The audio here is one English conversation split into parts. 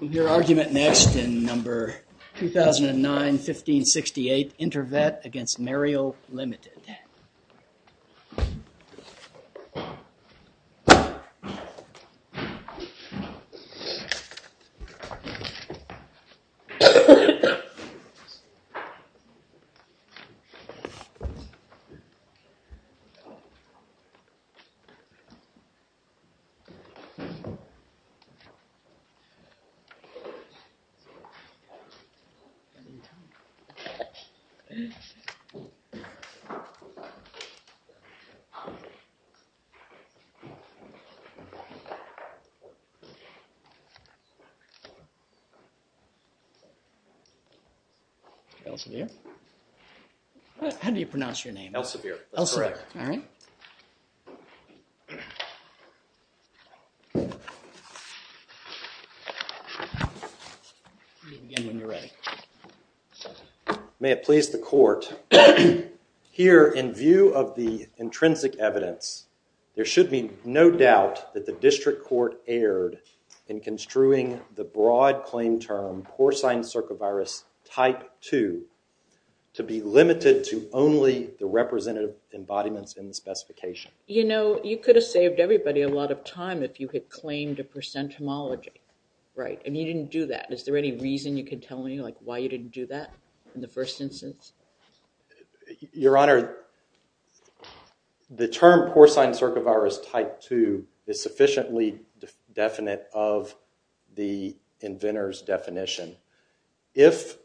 We'll hear argument next in number 2009-1568 Intervet against Merial Limited. Elsevier? How do you pronounce your name? Elsevier. Elsevier. All right. May it please the court. Here, in view of the intrinsic evidence, there should be no doubt that the district court erred in construing the broad claim term Porcine Circovirus Type 2 to be limited to only the representative embodiments in the specification. You know, you could have saved everybody a lot of time if you had claimed a percent homology, right? And you didn't do that. Is there any reason you could tell me, like, why you didn't do that in the first instance? Your Honor, the term Porcine Circovirus Type 2 is sufficiently definite of the inventor's If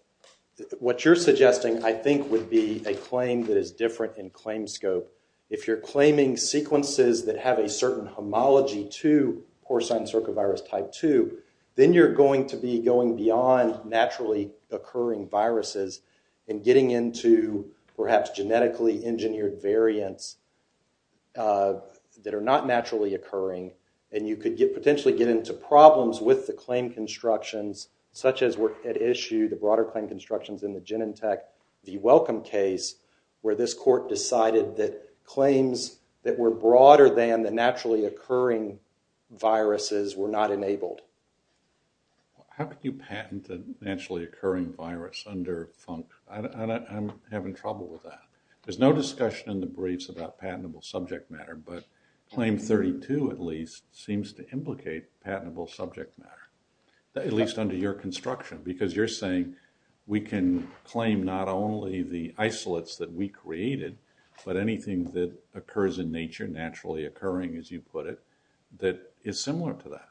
what you're suggesting, I think, would be a claim that is different in claim scope. If you're claiming sequences that have a certain homology to Porcine Circovirus Type 2, then you're going to be going beyond naturally occurring viruses and getting into perhaps genetically engineered variants that are not naturally occurring. And you could potentially get into problems with the broader claim constructions in the Genentech, the Welcome case, where this court decided that claims that were broader than the naturally occurring viruses were not enabled. How could you patent a naturally occurring virus under FUNC? I'm having trouble with that. There's no discussion in the briefs about patentable subject matter, but Claim 32, at least, seems to implicate patentable subject matter, at least under your construction, because you're saying we can claim not only the isolates that we created, but anything that occurs in nature, naturally occurring, as you put it, that is similar to that.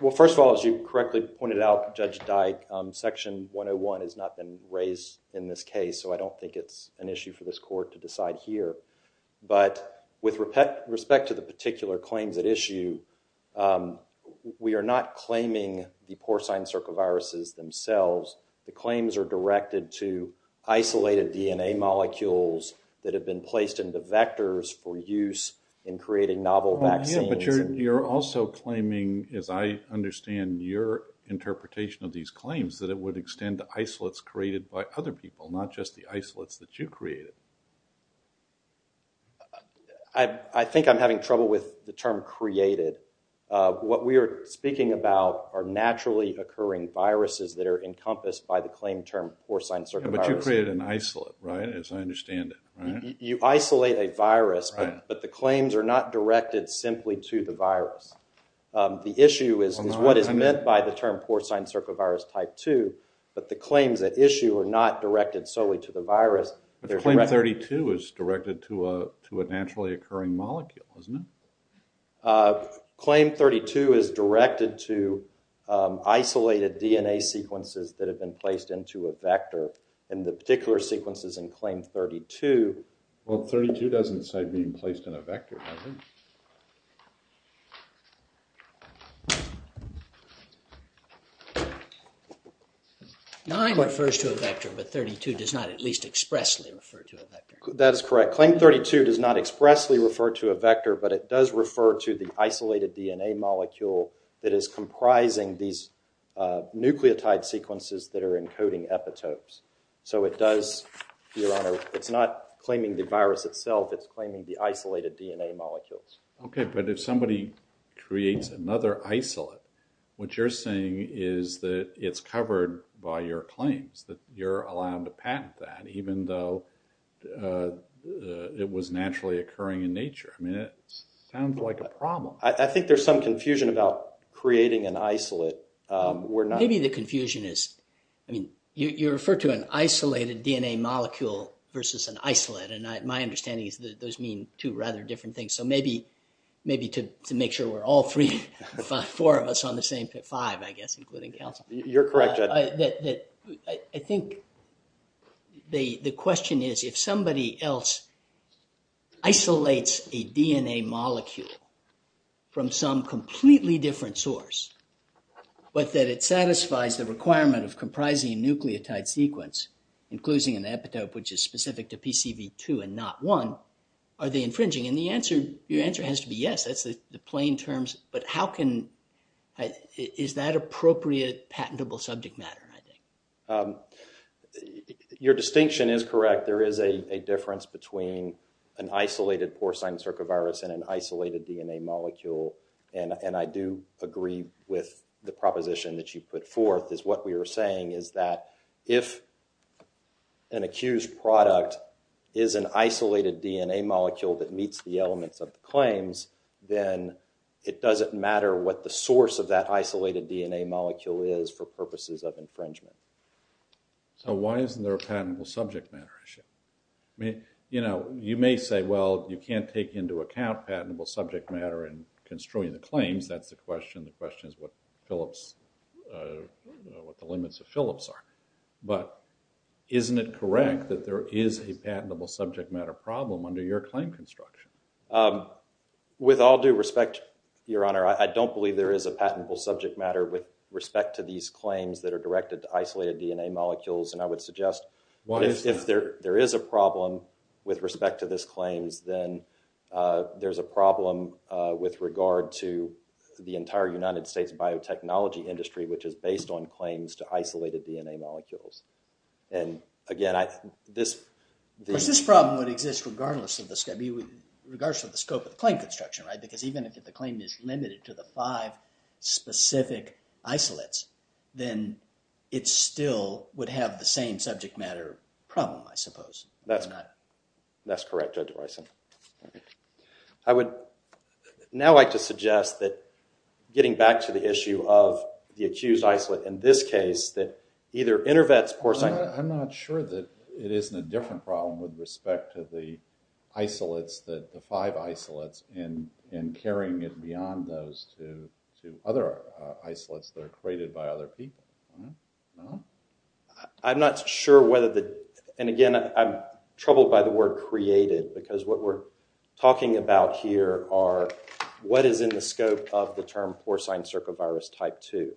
Well, first of all, as you correctly pointed out, Judge Dyke, Section 101 has not been raised in this case, so I don't think it's an issue for this court to decide here. But with respect to the particular claims at issue, we are not claiming the porcine circoviruses themselves. The claims are directed to isolated DNA molecules that have been placed into vectors for use in creating novel vaccines. But you're also claiming, as I understand your interpretation of these claims, that it would extend to isolates created by other people, not just the isolates that you created. I think I'm having trouble with the term created. What we are speaking about are naturally occurring viruses that are encompassed by the claim term porcine circovirus. But you created an isolate, right, as I understand it. You isolate a virus, but the claims are not directed simply to the virus. The issue is what is meant by the term solely to the virus. But claim 32 is directed to a naturally occurring molecule, isn't it? Claim 32 is directed to isolated DNA sequences that have been placed into a vector, and the particular sequences in claim 32... Well, 32 doesn't say being placed in a vector, does it? 9 refers to a vector, but 32 does not at least expressly refer to a vector. That is correct. Claim 32 does not expressly refer to a vector, but it does refer to the isolated DNA molecule that is comprising these nucleotide sequences that are encoding epitopes. So it does, your honor, it's not claiming the virus itself, it's claiming the isolated DNA molecules. But if somebody creates another isolate, what you're saying is that it's covered by your claims, that you're allowed to patent that even though it was naturally occurring in nature. I mean, it sounds like a problem. I think there's some confusion about creating an isolate. Maybe the confusion is, I mean, you refer to an isolated DNA molecule versus an isolate, and my understanding is that those mean two rather different things. So maybe to make sure we're all three, four of us on the same five, I guess, including counsel. You're correct, Judge. I think the question is, if somebody else isolates a DNA molecule from some completely different source, but that it satisfies the and not one, are they infringing? And the answer, your answer has to be yes. That's the plain terms, but how can, is that appropriate patentable subject matter, I think? Your distinction is correct. There is a difference between an isolated porcine circovirus and an isolated DNA molecule. And I do agree with the proposition that you put forth, is what we are saying is that if an accused product is an isolated DNA molecule that meets the elements of the claims, then it doesn't matter what the source of that isolated DNA molecule is for purposes of infringement. So why isn't there a patentable subject matter issue? I mean, you know, you may say, well, you can't take into account patentable subject matter and construe the claims. That's the question. The question is what Phillips, what the limits of Phillips are. But isn't it correct that there is a patentable subject matter problem under your claim construction? With all due respect, Your Honor, I don't believe there is a patentable subject matter with respect to these claims that are directed to isolated DNA molecules. And I would with regard to the entire United States biotechnology industry, which is based on claims to isolated DNA molecules. And again, I, this. Because this problem would exist regardless of the scope, regardless of the scope of the claim construction, right? Because even if the claim is limited to the five specific isolates, then it still would have the same subject matter problem, I suppose. That's correct, Judge Bison. All right. I would now like to suggest that getting back to the issue of the accused isolate in this case, that either InterVet's porcine. I'm not sure that it isn't a different problem with respect to the isolates, the five isolates, in carrying it beyond those to other isolates that are created by other people. No? I'm not sure whether the, and again, I'm troubled by the word created, because what we're talking about here are what is in the scope of the term porcine circovirus type 2.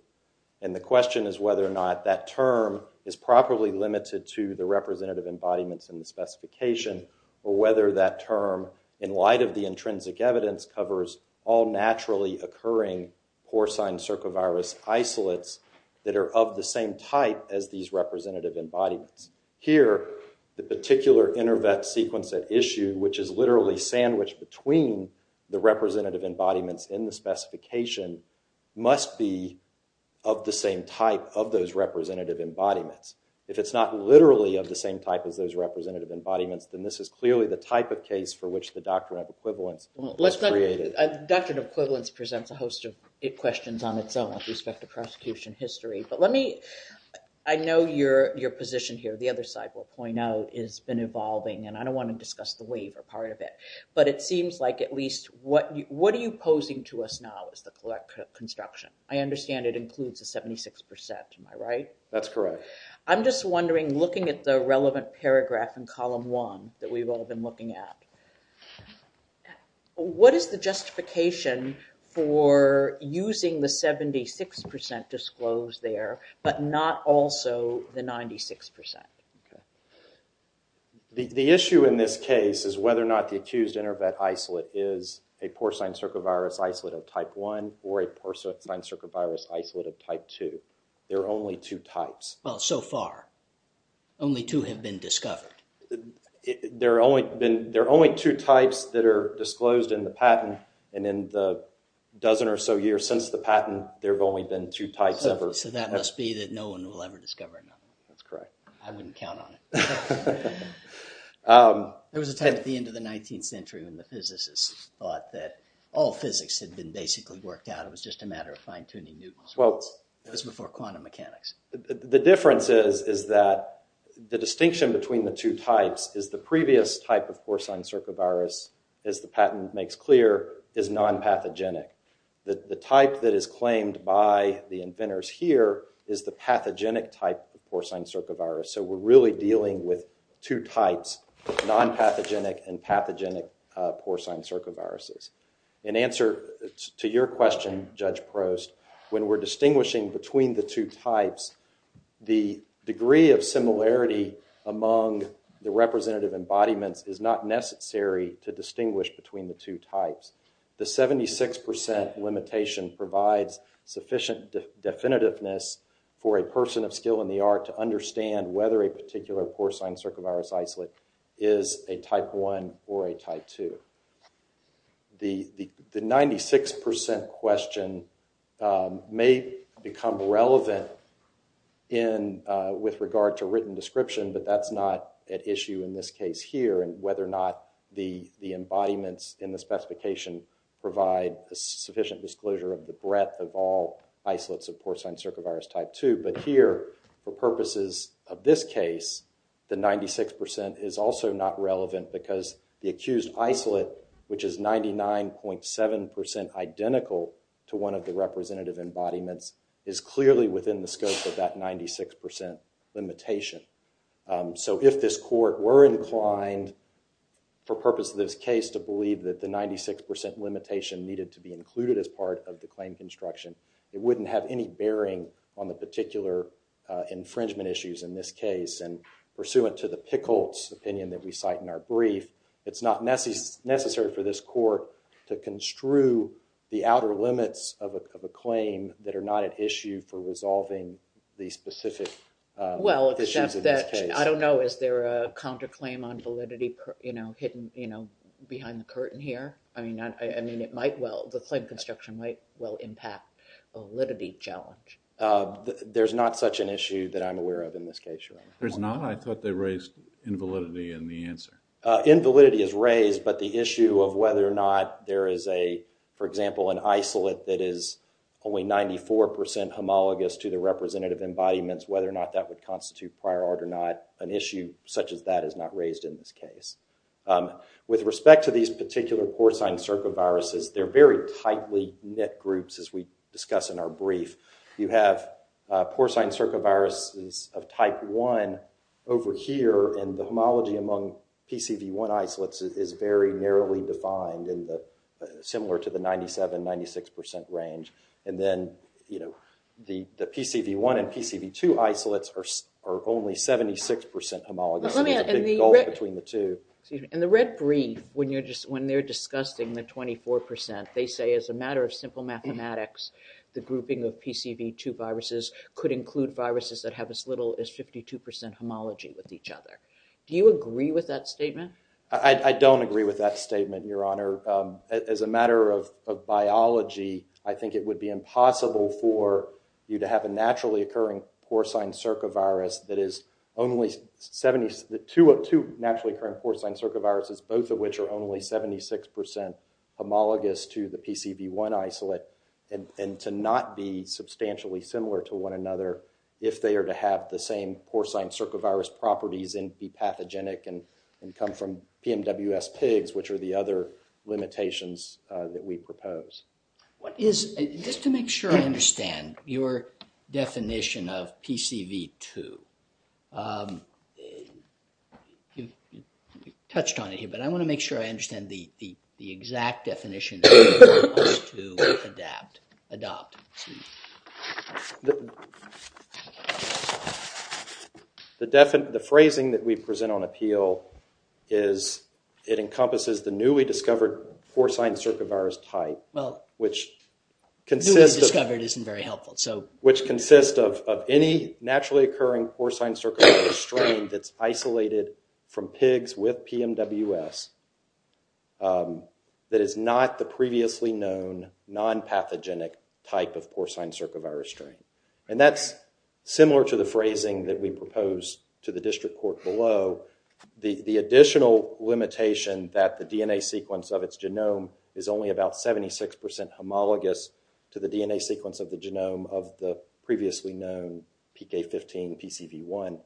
And the question is whether or not that term is properly limited to the representative embodiments in the specification, or whether that term, in light of the intrinsic evidence, covers all naturally occurring porcine circovirus isolates that are of the same type as these representative embodiments. Here, the particular InterVet sequence at issue, which is literally sandwiched between the representative embodiments in the specification, must be of the same type of those representative embodiments. If it's not literally of the same type as those representative embodiments, then this is clearly the type of case for which the doctrine of equivalence was created. Doctrine of equivalence presents a host of questions on its own with respect to prosecution history. But let me, I know your position here, the other side will point out, has been evolving, and I don't want to discuss the waiver part of it. But it seems like at least, what are you posing to us now as the court construction? I understand it includes the 76%, am I right? That's correct. I'm just wondering, looking at the relevant paragraph in column one that we've all been looking at, what is the justification for using the 76% disclosed there, but not also the 96%? The issue in this case is whether or not the accused InterVet isolate is a porcine circovirus isolate of type one or a porcine circovirus isolate of type two. There are only two types. Well, so far, only two have been discovered. There are only two types that are disclosed in the patent, and in the dozen or so years since the patent, there have only been two types ever. So that must be that no one will ever discover another one. That's correct. I wouldn't count on it. There was a time at the end of the 19th century when the physicists thought that all physics had been basically worked out. It was just a matter of fine-tuning Newton's law. It was before quantum mechanics. The difference is that the distinction between the two types is the previous type of porcine circovirus, as the patent makes clear, is non-pathogenic. The type that is claimed by the inventors here is the pathogenic type of porcine circovirus. So we're really dealing with two types, non-pathogenic and pathogenic porcine circoviruses. In answer to your question, Judge Prost, when we're distinguishing between the two types, the degree of similarity among the representative embodiments is not necessary to distinguish between the two types. The 76% limitation provides sufficient definitiveness for a person of skill in the art to understand whether a particular porcine circovirus isolate is a porcine. The 96% question may become relevant with regard to written description, but that's not at issue in this case here, and whether or not the embodiments in the specification provide a sufficient disclosure of the breadth of all isolates of porcine circovirus type 2. But here, for purposes of this case, the 96% is also not relevant because the accused isolate, which is 99.7% identical to one of the representative embodiments, is clearly within the scope of that 96% limitation. So if this court were inclined, for purposes of this case, to believe that the 96% limitation needed to be included as part of the claim construction, it wouldn't have any bearing on the particular infringement issues in this case. And pursuant to the Pickles opinion that we cite in our brief, it's not necessary for this court to construe the outer limits of a claim that are not at issue for resolving the specific issues in this case. Well, except that, I don't know, is there a counterclaim on validity hidden behind the curtain here? I mean, it might well, the claim construction might well impact validity challenge. There's not such an issue that I'm aware of in this case, Your Honor. There's not? I thought they raised invalidity in the answer. Invalidity is raised, but the issue of whether or not there is a, for example, an isolate that is only 94% homologous to the representative embodiments, whether or not that would constitute prior art or not, an issue such as that is not raised in this case. With respect to these particular porcine circoviruses, they're very tightly knit groups, as we discuss in our brief. You have porcine circoviruses of type 1 over here, and the homology among PCV1 isolates is very narrowly defined, similar to the 97, 96% range. And then, you know, the PCV1 and PCV2 isolates are only 76% homologous. Let me add, excuse me, in the red brief, when they're discussing the 24%, they say as a matter of simple mathematics, the grouping of PCV2 viruses could include viruses that have as little as 52% homology with each other. Do you agree with that statement? I don't agree with that statement, Your Honor. As a matter of biology, I think it would be impossible for you to have a naturally occurring porcine circovirus that is only 70, the two naturally occurring porcine circoviruses, both of which are only 76% homologous to the PCV1 isolate, and to not be substantially similar to one another if they are to have the same porcine circovirus properties and be pathogenic and come from PMWS pigs, which are the other limitations that we propose. What is, just to make sure I understand your definition of PCV2? You touched on it here, but I want to make sure I understand the exact definition for us to adopt. The phrasing that we present on appeal is it encompasses the of any naturally occurring porcine circovirus strain that's isolated from pigs with PMWS that is not the previously known non-pathogenic type of porcine circovirus strain. And that's similar to the phrasing that we propose to the district court below. The additional limitation that the DNA sequence of its genome is only about 76% homologous to the DNA sequence of the genome of the previously known PK15 PCV1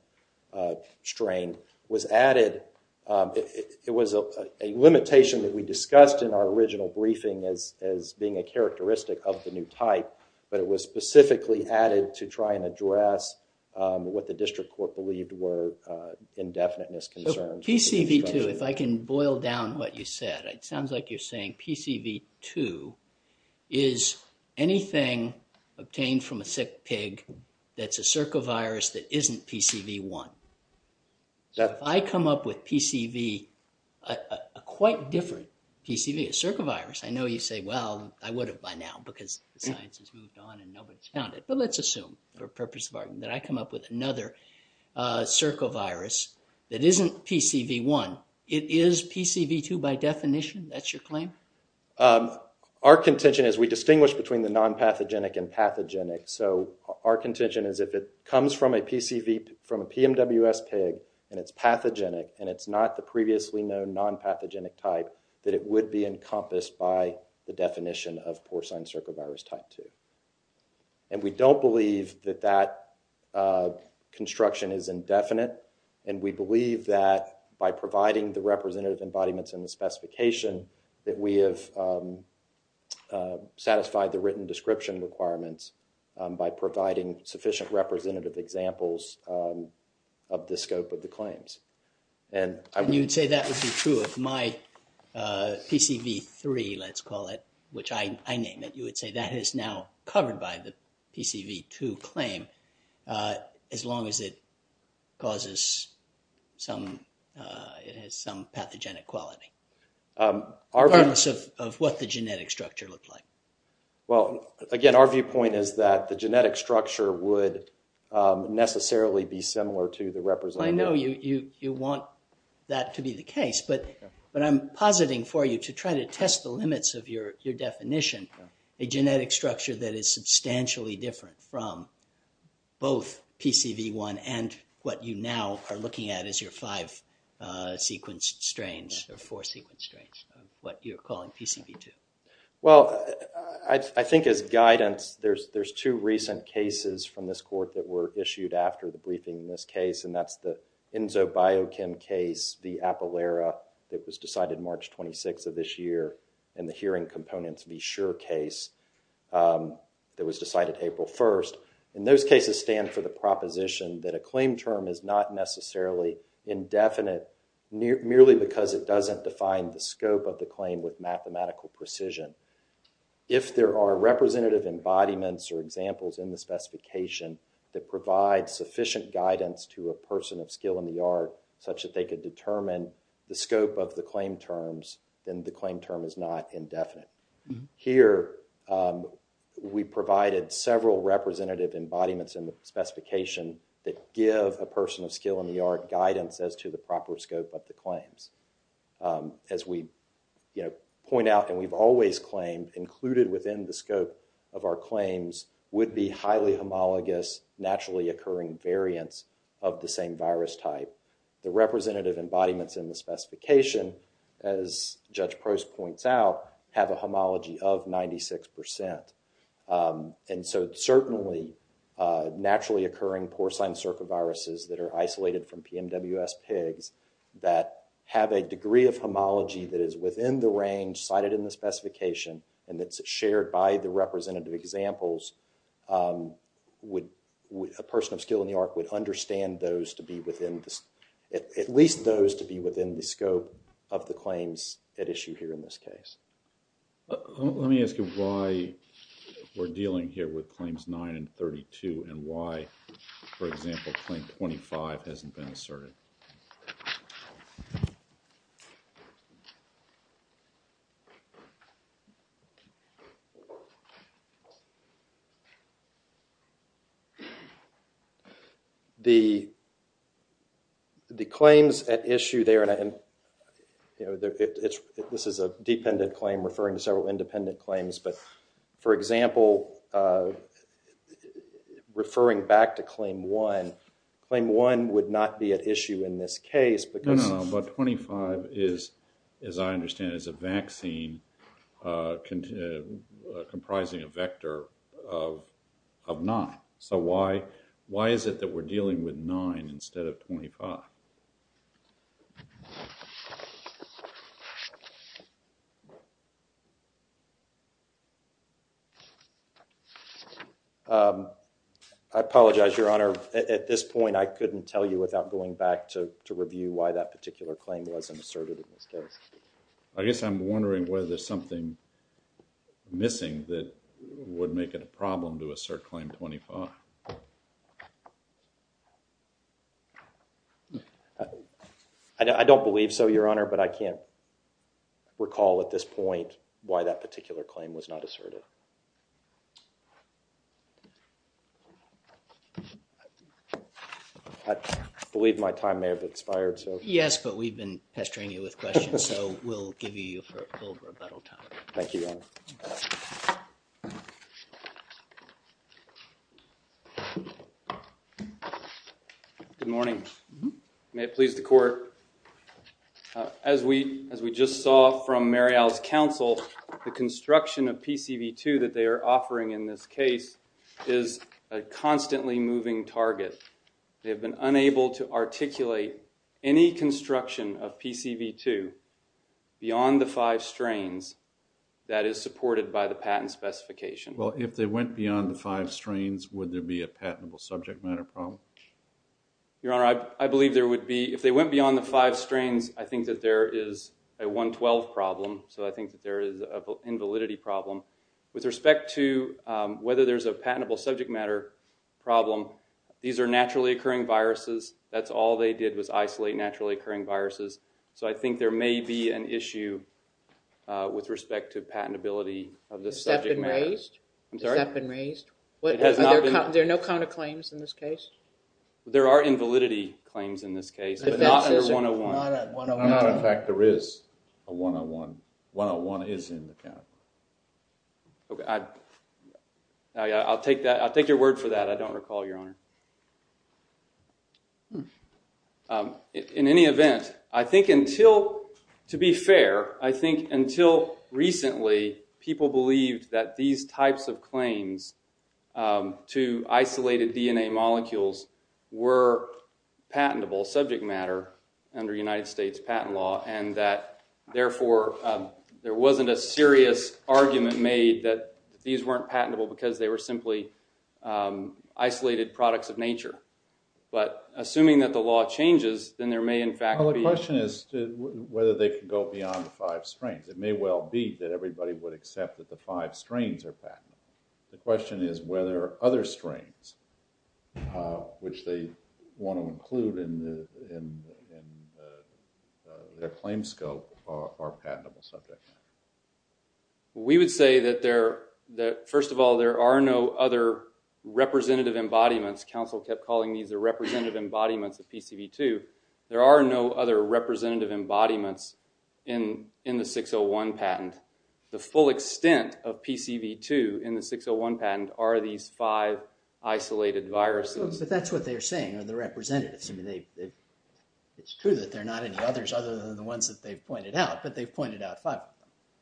strain was added. It was a limitation that we discussed in our original briefing as being a characteristic of the new type, but it was specifically added to try and address what the district court believed were indefiniteness concerns. PCV2, if I can boil down what you said, it sounds like you're saying PCV2 is anything obtained from a sick pig that's a circovirus that isn't PCV1. So if I come up with PCV, a quite different PCV, a circovirus, I know you say, well, I would have by now because the science has moved on and nobody's found it, but let's assume for the purpose of argument that I come up with another circovirus that isn't PCV1, it is PCV2 by definition, that's your claim? Our contention is we distinguish between the non-pathogenic and pathogenic. So our contention is if it comes from a PCV, from a PMWS pig and it's pathogenic and it's not the previously known non-pathogenic type, that it would be encompassed by the definition of non-pathogenic. That construction is indefinite and we believe that by providing the representative embodiments in the specification that we have satisfied the written description requirements by providing sufficient representative examples of the scope of the claims. And you'd say that would be true if my PCV3, let's call it, which I name it, you would say that is now covered by the PCV2 claim as long as it causes some, it has some pathogenic quality. Regardless of what the genetic structure looks like. Well, again, our viewpoint is that the genetic structure would necessarily be similar to the representative. I know you want that to be the case, but I'm positing for you to try to test the limits of your definition, a genetic structure that is substantially different from both PCV1 and what you now are looking at as your five sequence strains or four sequence strains, what you're calling PCV2. Well, I think as guidance, there's two recent cases from this court that were issued after the briefing in this case, and that's the in the hearing components be sure case that was decided April 1st. And those cases stand for the proposition that a claim term is not necessarily indefinite merely because it doesn't define the scope of the claim with mathematical precision. If there are representative embodiments or examples in the specification that provide sufficient guidance to a person of skill in the art such that they could determine the scope of the claim terms, then the claim term is not indefinite. Here, we provided several representative embodiments in the specification that give a person of skill in the art guidance as to the proper scope of the claims. As we, you know, point out, and we've always claimed included within the scope of our claims would be highly homologous naturally occurring variants of the same virus type. The representative embodiments in the specification, as Judge Prost points out, have a homology of 96%. And so certainly, naturally occurring porcine circoviruses that are isolated from PMWS pigs that have a degree of homology that is within the range cited in the specification, and it's shared by the representative examples, would a person of skill in the art would understand those to be within this, at least those to be within the scope of the claims at issue here in this case. Let me ask you why we're dealing here with claims 9 and 32 and why, for example, claim 25 hasn't been asserted. The claims at issue there, and, you know, this is a dependent claim referring to several independent claims, but, for example, referring back to claim 1, claim 1 would not be at issue in this case because- No, no, no. But 25 is, as I understand, is a vaccine comprising a vector of 9. So why is it that we're dealing with 9 instead of 25? I apologize, Your Honor. At this point, I couldn't tell you without going back to wondering whether there's something missing that would make it a problem to assert claim 25. I don't believe so, Your Honor, but I can't recall at this point why that particular claim was not asserted. I believe my time may have expired, so- Yes, but we've been pestering you with questions, so we'll give you a little bit of time. Thank you, Your Honor. Good morning. May it please the Court. As we just saw from Marial's counsel, the construction of PCV2 that they are offering in this case is a constantly moving target. They have been unable to articulate any construction of PCV2 beyond the five strains that is supported by the patent specification. Well, if they went beyond the five strains, would there be a patentable subject matter problem? Your Honor, I believe there would be. If they went beyond the five strains, I think that there is a 112 problem, so I think that there is an invalidity problem. With respect to whether there's a patentable subject matter problem, these are naturally occurring viruses. That's all they did was isolate naturally occurring viruses, so I think there may be an issue with respect to patentability of the subject matter. Has that been raised? I'm sorry? Has that been raised? There are no counterclaims in this case? There are invalidity claims in this case, but not under 101. Not at 101. Not in fact there is a 101. 101 is in the count. Okay, I'll take that. I'll take your word for that. I don't recall, Your Honor. In any event, I think until, to be fair, I think until recently people believed that these types of claims to isolated DNA molecules were patentable subject matter under United States patent law, and that therefore there wasn't a serious argument made that these weren't patentable because they were simply isolated products of nature. But assuming that the law changes, then there may in fact be- Well, the question is whether they can go beyond the five strains. It may well be that everybody would accept that the five strains are patentable. The question is whether other strains, which they want to include in their claim scope, are patentable subject. We would say that first of all, there are no other representative embodiments. Counsel kept calling these the representative embodiments of PCV2. There are no other representative embodiments in the 601 patent. The full extent of PCV2 in the 601 patent are these five isolated viruses. But that's what they're saying, are the representatives. It's true that there are not any others other than the ones that they've pointed out, but they've pointed out five.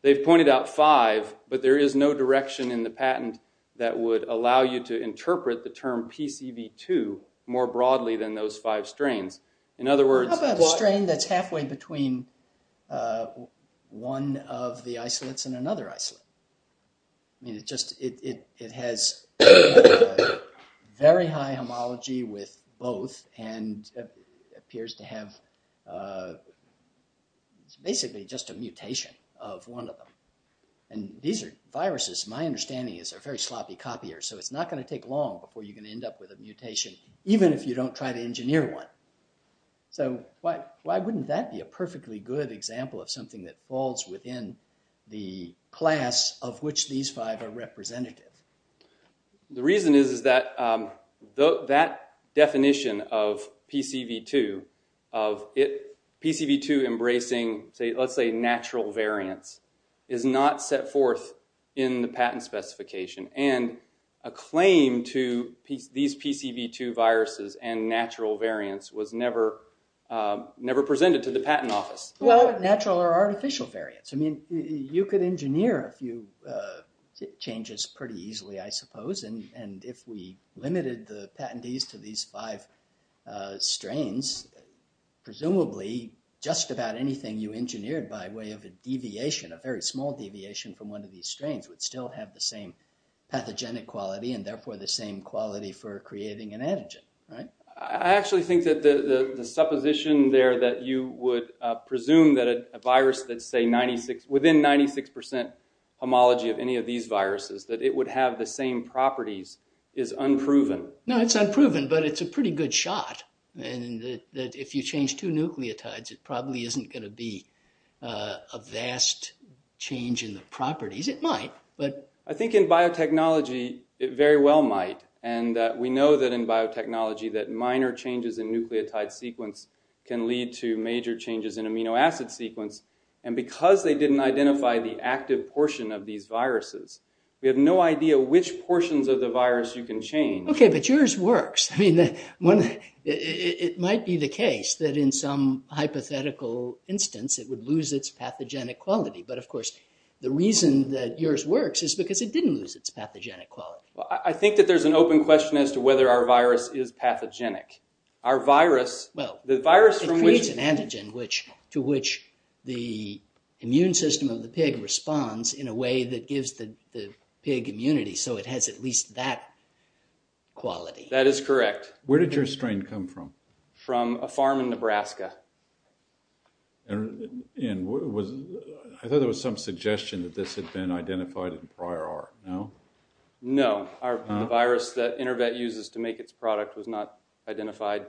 They've pointed out five, but there is no direction in the patent that would allow you to interpret the term PCV2 more broadly than those five strains. In other words- How about a strain that's halfway between one of the isolates and another isolate? It has very high homology with both and appears to have basically just a mutation of one of them. These are viruses, my understanding is, are very sloppy copiers, so it's not going to take long before you're So why wouldn't that be a perfectly good example of something that falls within the class of which these five are representative? The reason is that that definition of PCV2, of PCV2 embracing, let's say, natural variants, is not set forth in the patent specification. And a claim to these PCV2 viruses and natural variants was never presented to the patent office. Well, natural or artificial variants. I mean, you could engineer a few changes pretty easily, I suppose, and if we limited the patentees to these five strains, presumably just about anything you engineered by way of a deviation, a very small deviation from one of these strains, would still have the same pathogenic quality and therefore the same quality for creating an antigen. I actually think that the supposition there that you would presume that a virus that's within 96% homology of any of these viruses, that it would have the same properties, is unproven. No, it's unproven, but it's a pretty good shot. And that if you change two nucleotides, it probably isn't going to be a vast change in the properties. It might, but... I think in biotechnology, it very well might. And we know that in biotechnology that minor changes in nucleotide sequence can lead to major changes in amino acid sequence. And because they didn't identify the active portion of these viruses, we have no idea which portions of the virus you can change. Okay, but yours works. I mean, it might be the case that in some hypothetical instance, it would lose its pathogenic quality. But of course, the reason that yours works is because it didn't lose its pathogenic quality. Well, I think that there's an open question as to whether our virus is pathogenic. Our virus... Well, it creates an antigen to which the immune system of the pig responds in a way that gives the pig immunity, so it has at least that quality. That is correct. Where did your strain come from? From a farm in Nebraska. And I thought there was some suggestion that this had been identified in prior art, no? No. The virus that InterVet uses to make its product was not identified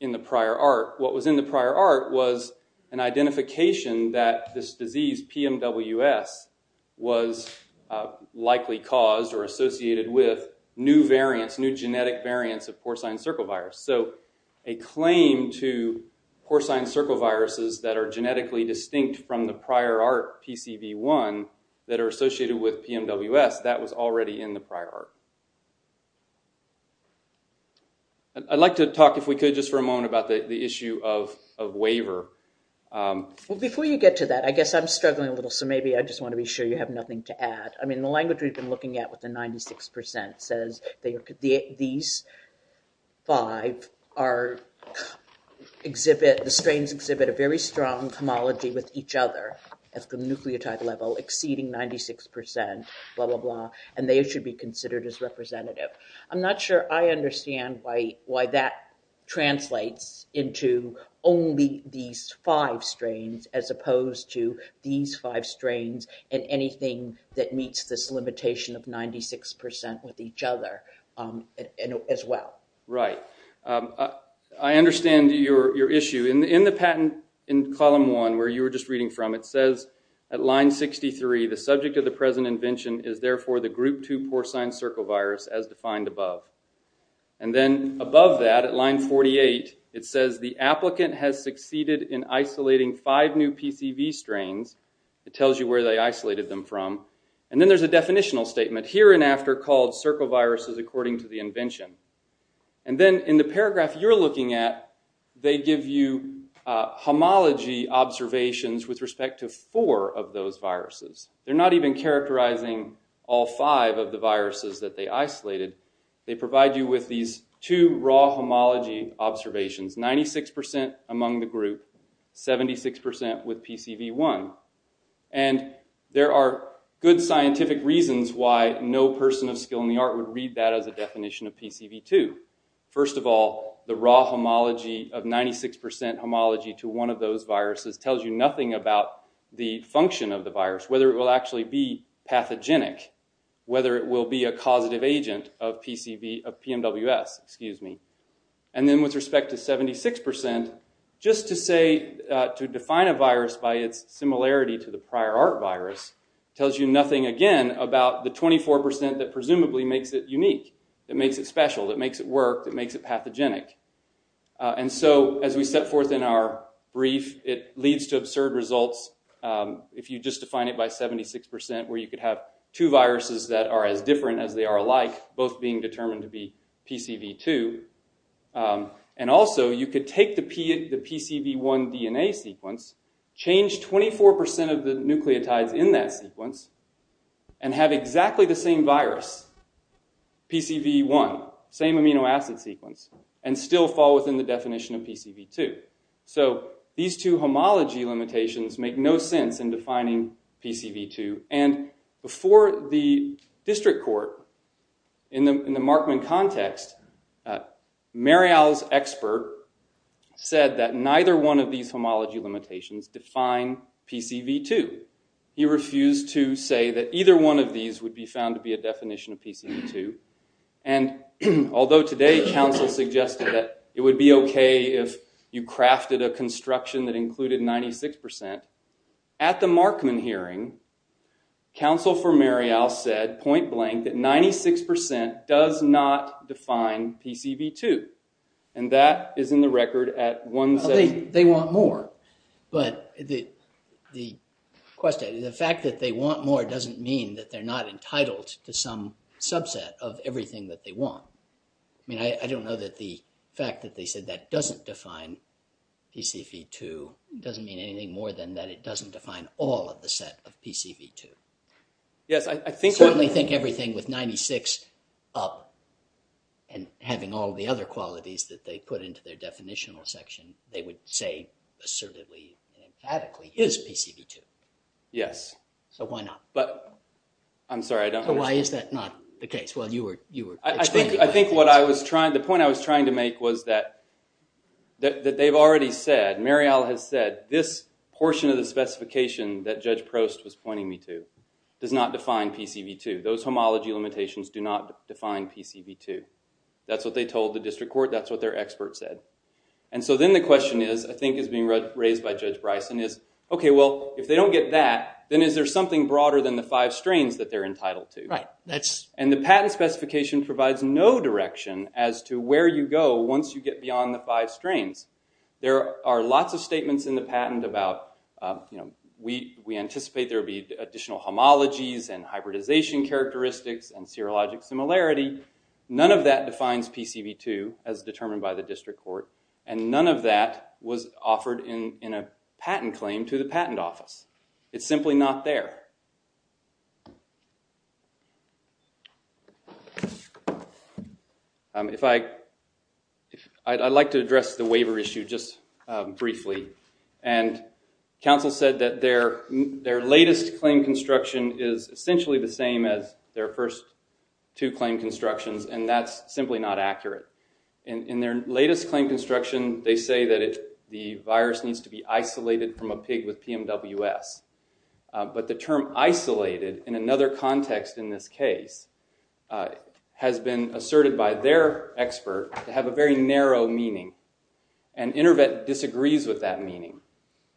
in the prior art. What was in the prior art was an identification that this disease PMWS was likely caused or associated with new variants, new genetic variants of porcine circle virus. So a claim to porcine circle viruses that are genetically distinct from the prior art PCV1 that are associated with PMWS, that was already in the prior art. And I'd like to talk, if we could, just for a moment about the issue of waiver. Well, before you get to that, I guess I'm struggling a little, so maybe I just want to be sure you have nothing to add. I mean, the language we've been looking at with the 96% says these five are exhibit... The strains exhibit a very strong homology with each other at the nucleotide level, exceeding 96%, blah, blah, blah, and they should be considered as representative. I'm not sure I understand why that translates into only these five strains as opposed to these five strains and anything that meets this limitation of 96% with each other as well. Right. I understand your issue. In the patent, in column one, where you were just reading from, it says at line 63, the subject of the present invention is therefore the group two porcine circle virus as defined above. And then above that at line 48, it says the applicant has succeeded in isolating five new PCV strains. It tells you where they isolated them from. And then there's a definitional statement here and after called circle viruses according to the invention. And then in the paragraph you're looking at, they give you homology observations with respect to four of those viruses. They're not even characterizing all five of the viruses that they isolated. They provide you with these two raw homology observations, 96% among the group, 76% with PCV1. And there are good scientific reasons why no person of skill in the art would read that as a definition of PCV2. First of all, the raw homology of 96% homology to one of those tells you nothing about the function of the virus, whether it will actually be pathogenic, whether it will be a causative agent of PMWS. And then with respect to 76%, just to say, to define a virus by its similarity to the prior art virus, tells you nothing again about the 24% that presumably makes it unique, that makes it special, that makes it work, that makes it pathogenic. And so as we set forth in our brief, it leads to absurd results. If you just define it by 76%, where you could have two viruses that are as different as they are alike, both being determined to be PCV2. And also you could take the PCV1 DNA sequence, change 24% of the nucleotides in that sequence and have exactly the same virus, PCV1, same amino acid sequence, and still fall within the definition of PCV2. So these two homology limitations make no sense in defining PCV2. And before the district court, in the Markman context, Marial's expert said that neither one of these homology limitations define PCV2. He refused to say that either one of these would be found to be a definition of PCV2. And although today council suggested that it would be okay if you crafted a construction that included 96%, at the Markman hearing, council for Marial said, point blank, that 96% does not question. The fact that they want more doesn't mean that they're not entitled to some subset of everything that they want. I mean, I don't know that the fact that they said that doesn't define PCV2 doesn't mean anything more than that it doesn't define all of the set of PCV2. I certainly think everything with 96 up and having all the other qualities that they put into their definitional section, they would say assertively and emphatically, is PCV2. Yes. So why not? But I'm sorry, I don't know. Why is that not the case? Well, you were, you were. I think, I think what I was trying, the point I was trying to make was that that they've already said, Marial has said, this portion of the specification that Judge Prost was pointing me to does not define PCV2. Those homology limitations do not define PCV2. That's what they told the district court. That's what their expert said. And so then the question is, I think is being raised by Judge Bryson is, okay, well, if they don't get that, then is there something broader than the five strains that they're entitled to? Right. That's. And the patent specification provides no direction as to where you go once you get beyond the five strains. There are lots of statements in the patent about, you know, we, we anticipate there will be additional homologies and hybridization characteristics and serologic similarity. None of that defines PCV2 as determined by the district court. And none of that was offered in, in a patent claim to the patent office. It's simply not there. If I, I'd like to address the waiver issue just briefly. And counsel said that their, their latest claim construction is essentially the same as their first two claim constructions, and that's simply not accurate. In, in their latest claim construction, they say that it, the virus needs to be isolated from a pig with PMWS. But the term isolated in another context in this case has been asserted by their expert to have a very narrow meaning. And Intervet disagrees with that meaning.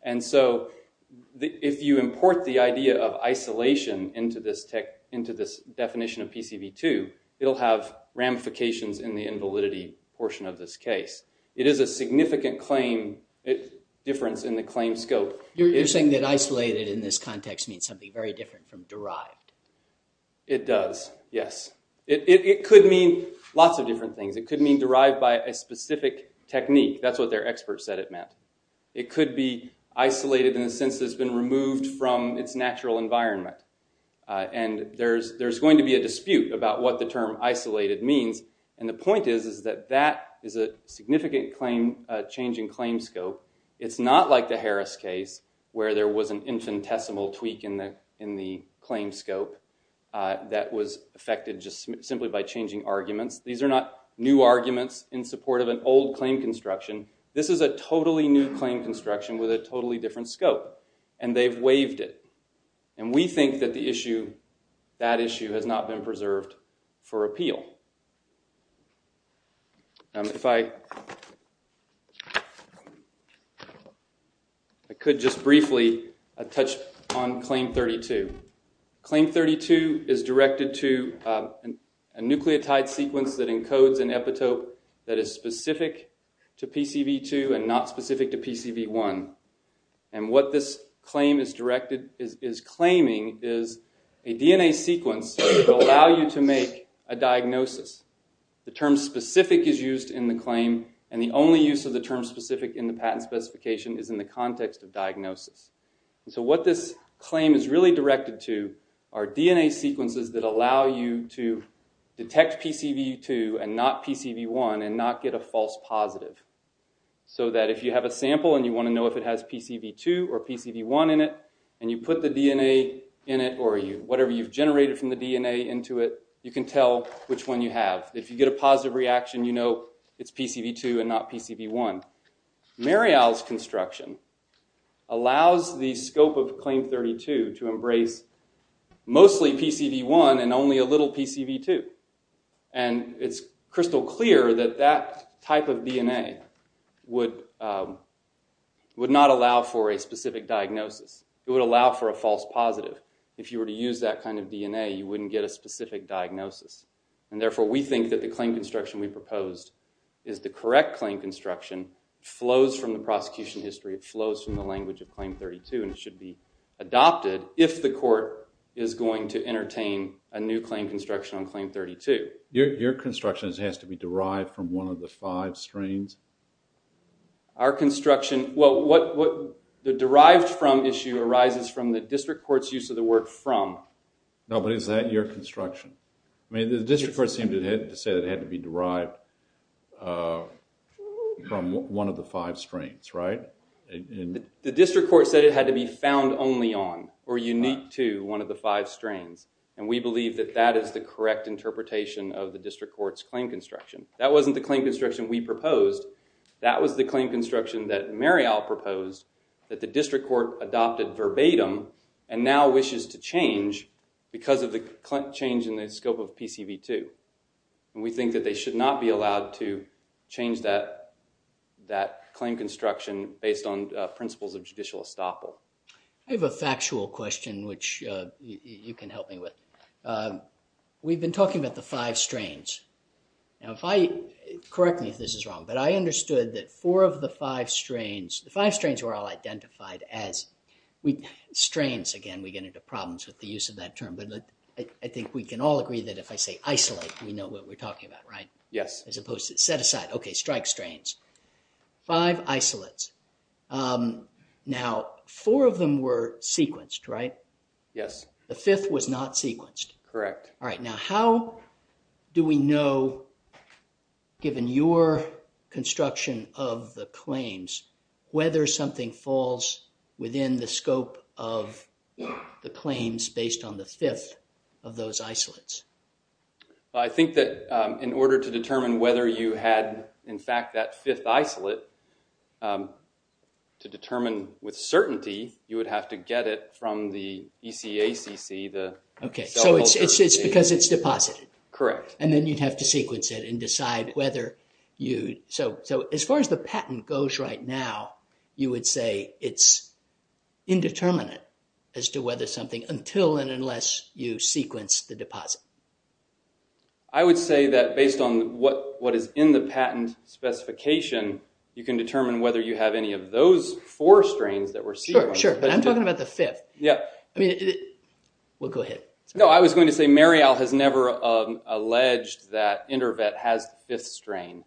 And so the, if you import the idea of isolation into this tech, into this definition of PCV2, it'll have ramifications in the invalidity portion of this case. It is a significant claim, difference in the claim scope. You're saying that isolated in this context means something very different from derived. It does. Yes. It, it could mean lots of different things. It could mean derived by a specific technique. That's what their expert said it meant. It could be isolated in the sense that it's been removed from its natural environment. And there's, there's going to be a dispute about what the term isolated means. And the point is, is that that is a significant claim, change in claim scope. It's not like the Harris case, where there was an infinitesimal tweak in the, in the claim scope that was affected just simply by changing arguments. These are not new arguments in support of an old claim construction. This is a totally new claim construction with a totally different scope and they've waived it. And we think that the issue, that issue has not been preserved for appeal. If I, I could just briefly touch on claim 32. Claim 32 is directed to a nucleotide sequence that encodes an epitope that is specific to PCV2 and not specific to PCV1. And what this claim is directed, is claiming is a DNA sequence that will allow you to make a diagnosis. The term specific is used in the claim and the only use of the term specific in the patent specification is in the context of diagnosis. And so what this claim is really directed to are DNA sequences that allow you to detect PCV2 and not PCV1 and not get a false positive. So that if you have a sample and you want to know if it has PCV2 or PCV1 in it and you put the DNA in it or you, whatever you've generated from the DNA into it, you can tell which one you have. If you get a positive reaction, you know it's PCV2 and not PCV1. Muriel's construction allows the scope of claim 32 to embrace mostly PCV1 and only a little PCV2. And it's crystal clear that that type of DNA would, would not allow for a specific diagnosis. It would allow for a false positive. If you were to use that kind of DNA, you wouldn't get a specific diagnosis. And therefore we think that the claim construction we proposed is the correct claim construction. Flows from the prosecution history. It flows from the language of claim 32 and it should be adopted if the court is going to entertain a new claim construction on claim 32. Your construction has to be derived from one of the five strains? Our construction, well what, what the derived from issue arises from the district court's use of the word from. No, but is that your construction? I mean the district court seemed to have said it had to be derived from one of the five strains, right? The district court said it had to be found only on or unique to one of the five strains. And we believe that that is the correct interpretation of the district court's claim construction. That wasn't the claim construction we proposed. That was the claim construction that Muriel proposed that the district court adopted verbatim and now wishes to change because of the change in the scope of PCV2. And we think that they should not be allowed to change that, that claim construction based on principles of judicial estoppel. I have a factual question which you can help me with. We've been talking about the five strains. Now if I, correct me if this is wrong, but I understood that four of the five strains, the five strains were all identified as we, strains again we get into problems with the use of that term, but I think we can all agree that if I say isolate we know what we're talking about, right? Yes. As opposed to set aside, okay, strike strains. Five isolates. Now four of them were sequenced, right? Yes. The fifth was not sequenced. Correct. All right, now how do we know given your construction of the claims whether something falls within the scope of the claims based on the fifth of those isolates? I think that in order to determine whether you had in fact that fifth isolate, to determine with certainty you would have to get it from the decide whether you, so as far as the patent goes right now, you would say it's indeterminate as to whether something until and unless you sequence the deposit. I would say that based on what is in the patent specification, you can determine whether you have any of those four strains that were sequenced. Sure, but I'm talking about the fifth. Yeah. I mean, we'll go ahead. No, I was going to say Marial has never alleged that InterVet has fifth strain,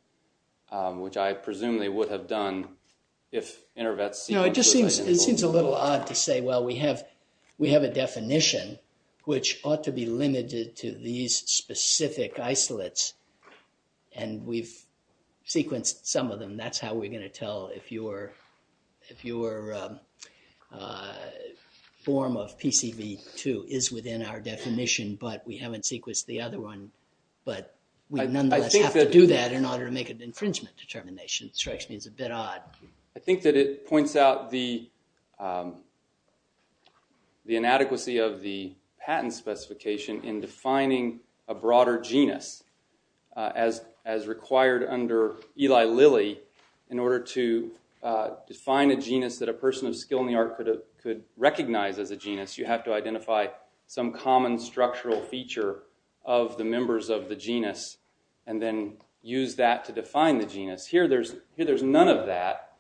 which I presumably would have done if InterVet... You know, it just seems a little odd to say, well, we have a definition which ought to be limited to these specific isolates, and we've sequenced some of them. That's how we're going to tell if your form of PCV2 is within our definition, but we haven't sequenced the other one, but we nonetheless have to do that in order to make an infringement determination. It strikes me as a bit odd. I think that it points out the inadequacy of the patent specification in defining a broader genus as required under Eli Lilly in order to define a genus that a person of skill in the art could recognize as a genus. You have to identify some common structural feature of the members of the genus and then use that to define the genus. Here, there's none of that,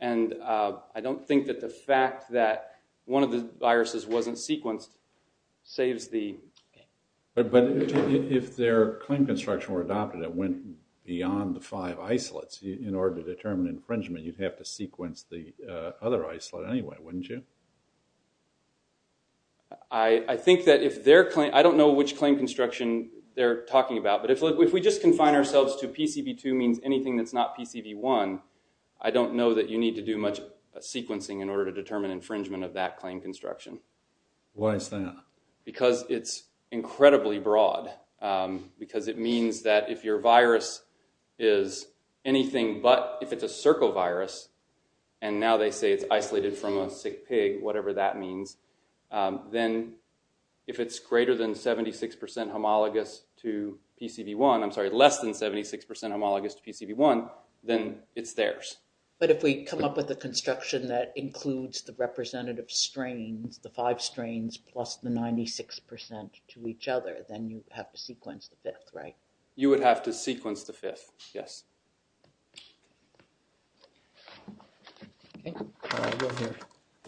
and I don't think that the fact that one of the viruses wasn't sequenced saves the... But if their claim construction were adopted, it went beyond the five isolates. In order to determine infringement, you'd have to sequence the other isolate anyway, wouldn't you? I think that if their claim... I don't know which claim construction they're talking about, but if we just confine ourselves to PCV2 means anything that's not PCV1, I don't know that you need to do much sequencing in order to determine infringement of that claim construction. Why is that? Because it's incredibly broad, because it means that if your virus is anything but... If it's a circovirus, and now they say it's isolated from a sick pig, whatever that means, then if it's greater than 76% homologous to PCV1... I'm sorry, less than 76% homologous to PCV1, then it's theirs. But if we come up with a construction that includes the representative strains, the five strains, plus the 96% to each other, then you'd have to sequence the fifth, right? You would have to sequence the fifth, yes. Okay, we'll hear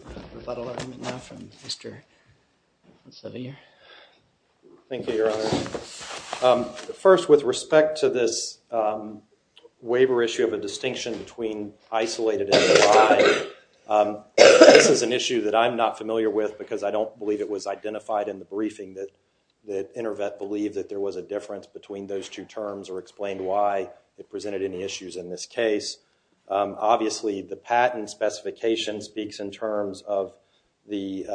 a lot of argument now from Mr. Savier. Thank you, Your Honor. First, with respect to this waiver issue of a distinction between isolated and defined, this is an issue that I'm not familiar with, because I don't believe it was identified in the briefing that InterVet believed that there was a difference between those two terms or explained why it presented any issues in this case. Obviously, the patent specification speaks in terms of the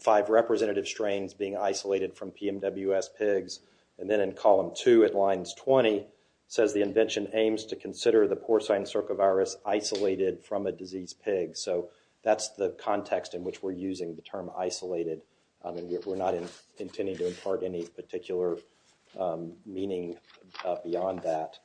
five representative strains being isolated from PMWS pigs, and then in column 2 at lines 20 says the invention aims to consider the porcine circovirus isolated from a disease pig. So that's the context in which we're using the term isolated. I mean, we're not intending to impart any particular meaning beyond that.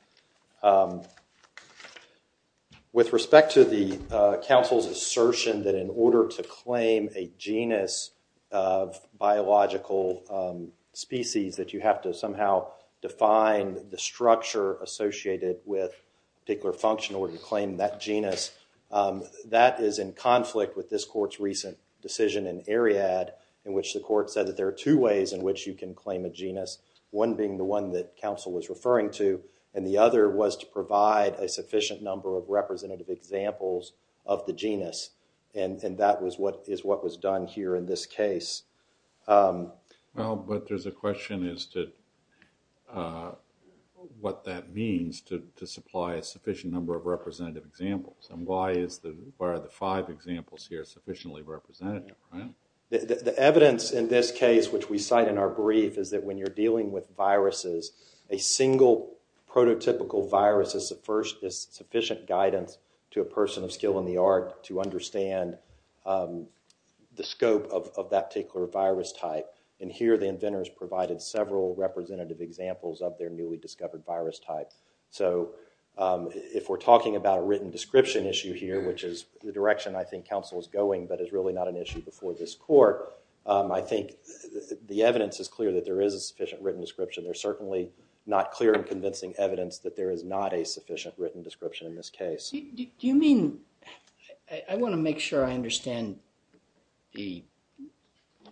With respect to the counsel's assertion that in order to claim a genus of biological species that you have to somehow define the structure associated with a particular function in order to claim that genus, that is in conflict with this court's recent decision in Ariad in which the court said that there are two ways in which you can claim a genus, one being the one that counsel was referring to, and the other was to provide a sufficient number of representative examples of the genus. And that is what was done here in this case. Well, but there's a question as to what that means to supply a sufficient number of representative examples, and why are the five examples here sufficiently representative? The evidence in this case, which we cite in our brief, is that when you're dealing with viruses, a single prototypical virus is sufficient guidance to a person of skill in the art to understand the scope of that particular virus type. And here the inventors provided several representative examples of their newly discovered virus type. So if we're talking about a written description issue here, which is the direction I think counsel is going but is really not an issue before this court, I think the evidence is clear that there is a sufficient written description. There's certainly not clear and convincing evidence that there is not a sufficient written description in this case. Do you mean, I want to make sure I understand the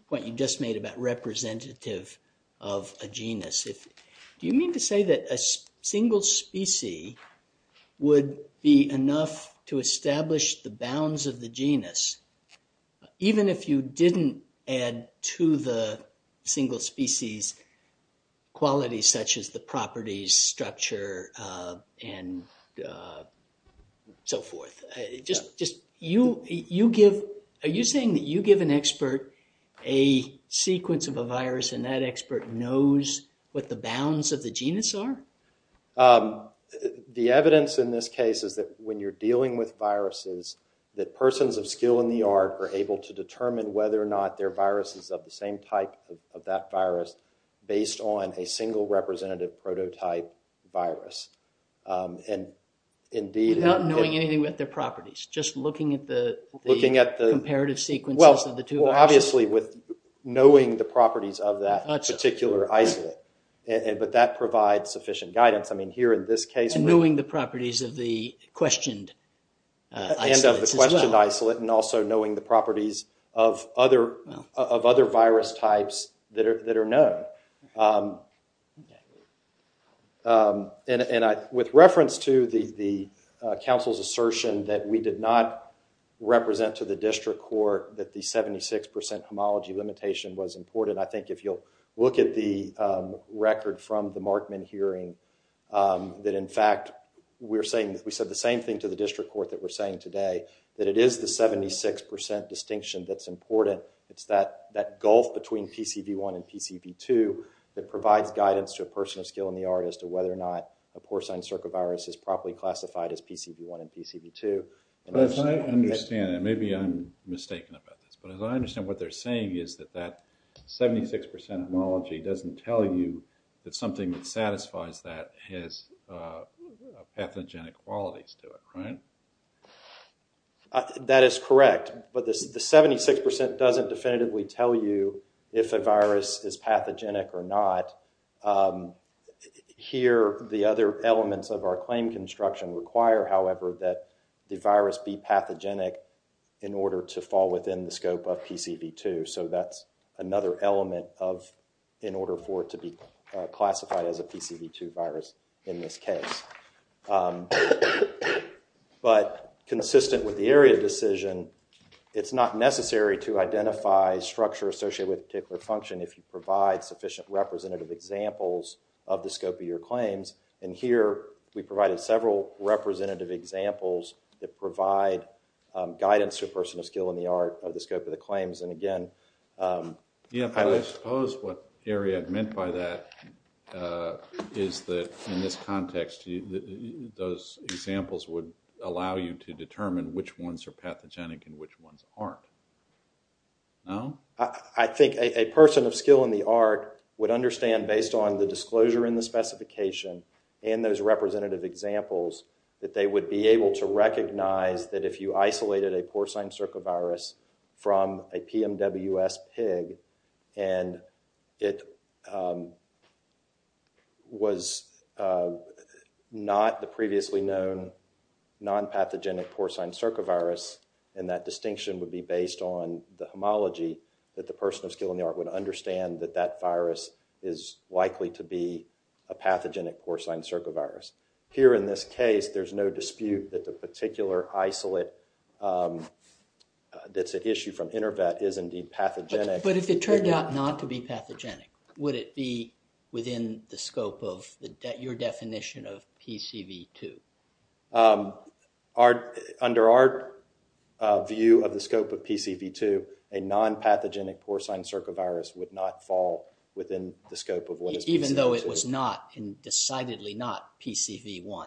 point you just made about representative of a genus. Do you mean to say that a single species would be enough to establish the bounds of the genus, even if you didn't add to the single species qualities such as the properties, structure, and so forth? Are you saying that you give an expert a sequence of a virus and that expert knows what the bounds of the genus are? The evidence in this case is that when you're dealing with viruses, that persons of skill in their viruses are of the same type of that virus based on a single representative prototype virus. Without knowing anything about their properties, just looking at the comparative sequences of the two viruses. Well, obviously with knowing the properties of that particular isolate, but that provides sufficient guidance. I mean here in this case. Knowing the properties of the other virus types that are known. With reference to the counsel's assertion that we did not represent to the district court that the 76% homology limitation was important. I think if you'll look at the record from the Markman hearing, that in fact we said the same thing to the district court that we're saying today. That it is the 76% distinction that's important that gulf between PCV1 and PCV2 that provides guidance to a person of skill in the art as to whether or not a porcine circovirus is properly classified as PCV1 and PCV2. As I understand it, maybe I'm mistaken about this, but as I understand what they're saying is that that 76% homology doesn't tell you that something that satisfies that has pathogenic qualities to it, right? That is correct, but the 76% doesn't definitively tell you if a virus is pathogenic or not. Here, the other elements of our claim construction require, however, that the virus be pathogenic in order to fall within the scope of PCV2. So that's another element of in order for it to be consistent with the area decision, it's not necessary to identify structure associated with a particular function if you provide sufficient representative examples of the scope of your claims. And here, we provided several representative examples that provide guidance to a person of skill in the art of the scope of the claims. And again, Yeah, but I suppose what Ariad meant by that is that in this context, those examples would allow you to determine which ones are pathogenic and which ones aren't. No? I think a person of skill in the art would understand based on the disclosure in the specification and those representative examples that they would be able to recognize that if you isolated a porcine circovirus from a PMWS pig, and it was not the previously known non-pathogenic porcine circovirus, and that distinction would be based on the homology, that the person of skill in the art would understand that that virus is likely to be a pathogenic porcine circovirus. Here in this case, there's no dispute that the particular isolate that's an issue from InterVet is indeed pathogenic. But if it turned out not to be pathogenic, would it be within the scope of your definition of PCV2? Under our view of the scope of PCV2, a non-pathogenic porcine circovirus would not fall within the scope of what is PCV2. Even though it was not, and decidedly not, PCV1?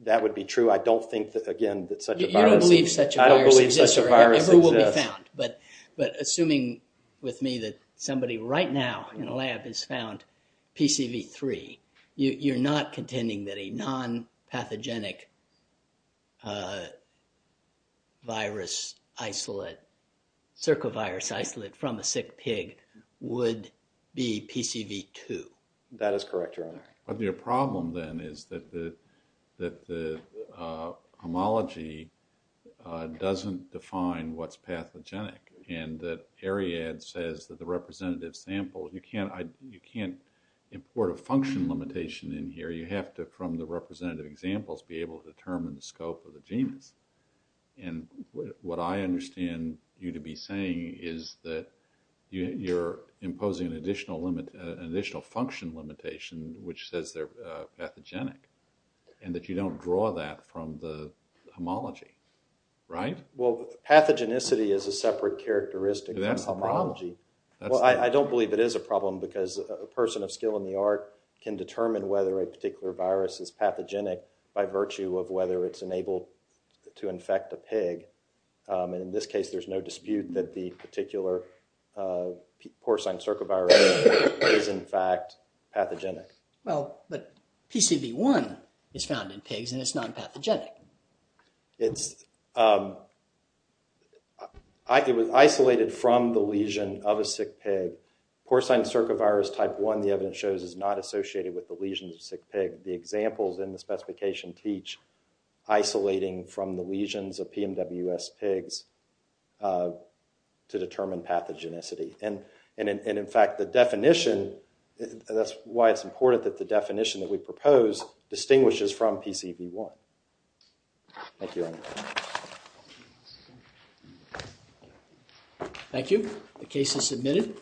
That would be true. I don't think that, again, that such a virus exists. You don't believe such a virus exists or ever will be found. But assuming with me that somebody right now in a lab has found PCV3, you're not contending that a non-pathogenic virus isolate, circovirus isolate from a sick pig would be PCV2? That is correct, Your Honor. But your problem then is that the homology doesn't define what's pathogenic, and that Ariadne says that the representative sample, you can't import a function limitation in here. You have to, from the representative examples, be able to determine the scope of the genus. And what I understand you to be saying is that you're imposing an additional function limitation, which says they're pathogenic, and that you don't draw that from the homology, right? Well, pathogenicity is a separate characteristic. But that's the problem. Well, I don't believe it is a problem because a person of skill in the art can determine whether a particular virus is pathogenic by virtue of whether it's enabled to infect a pig. And in this case, there's no dispute that the particular porcine circovirus is, in fact, pathogenic. Well, but PCV1 is found in pigs, and it's non-pathogenic. It was isolated from the lesion of a sick pig. Porcine circovirus type 1, the evidence shows, is not associated with the lesion of a sick pig. The examples in the specification teach isolating from the lesions of PMWS pigs to determine pathogenicity. And in fact, the definition, that's why it's important that the definition that we propose distinguishes from PCV1. Thank you. Thank you. The case is submitted.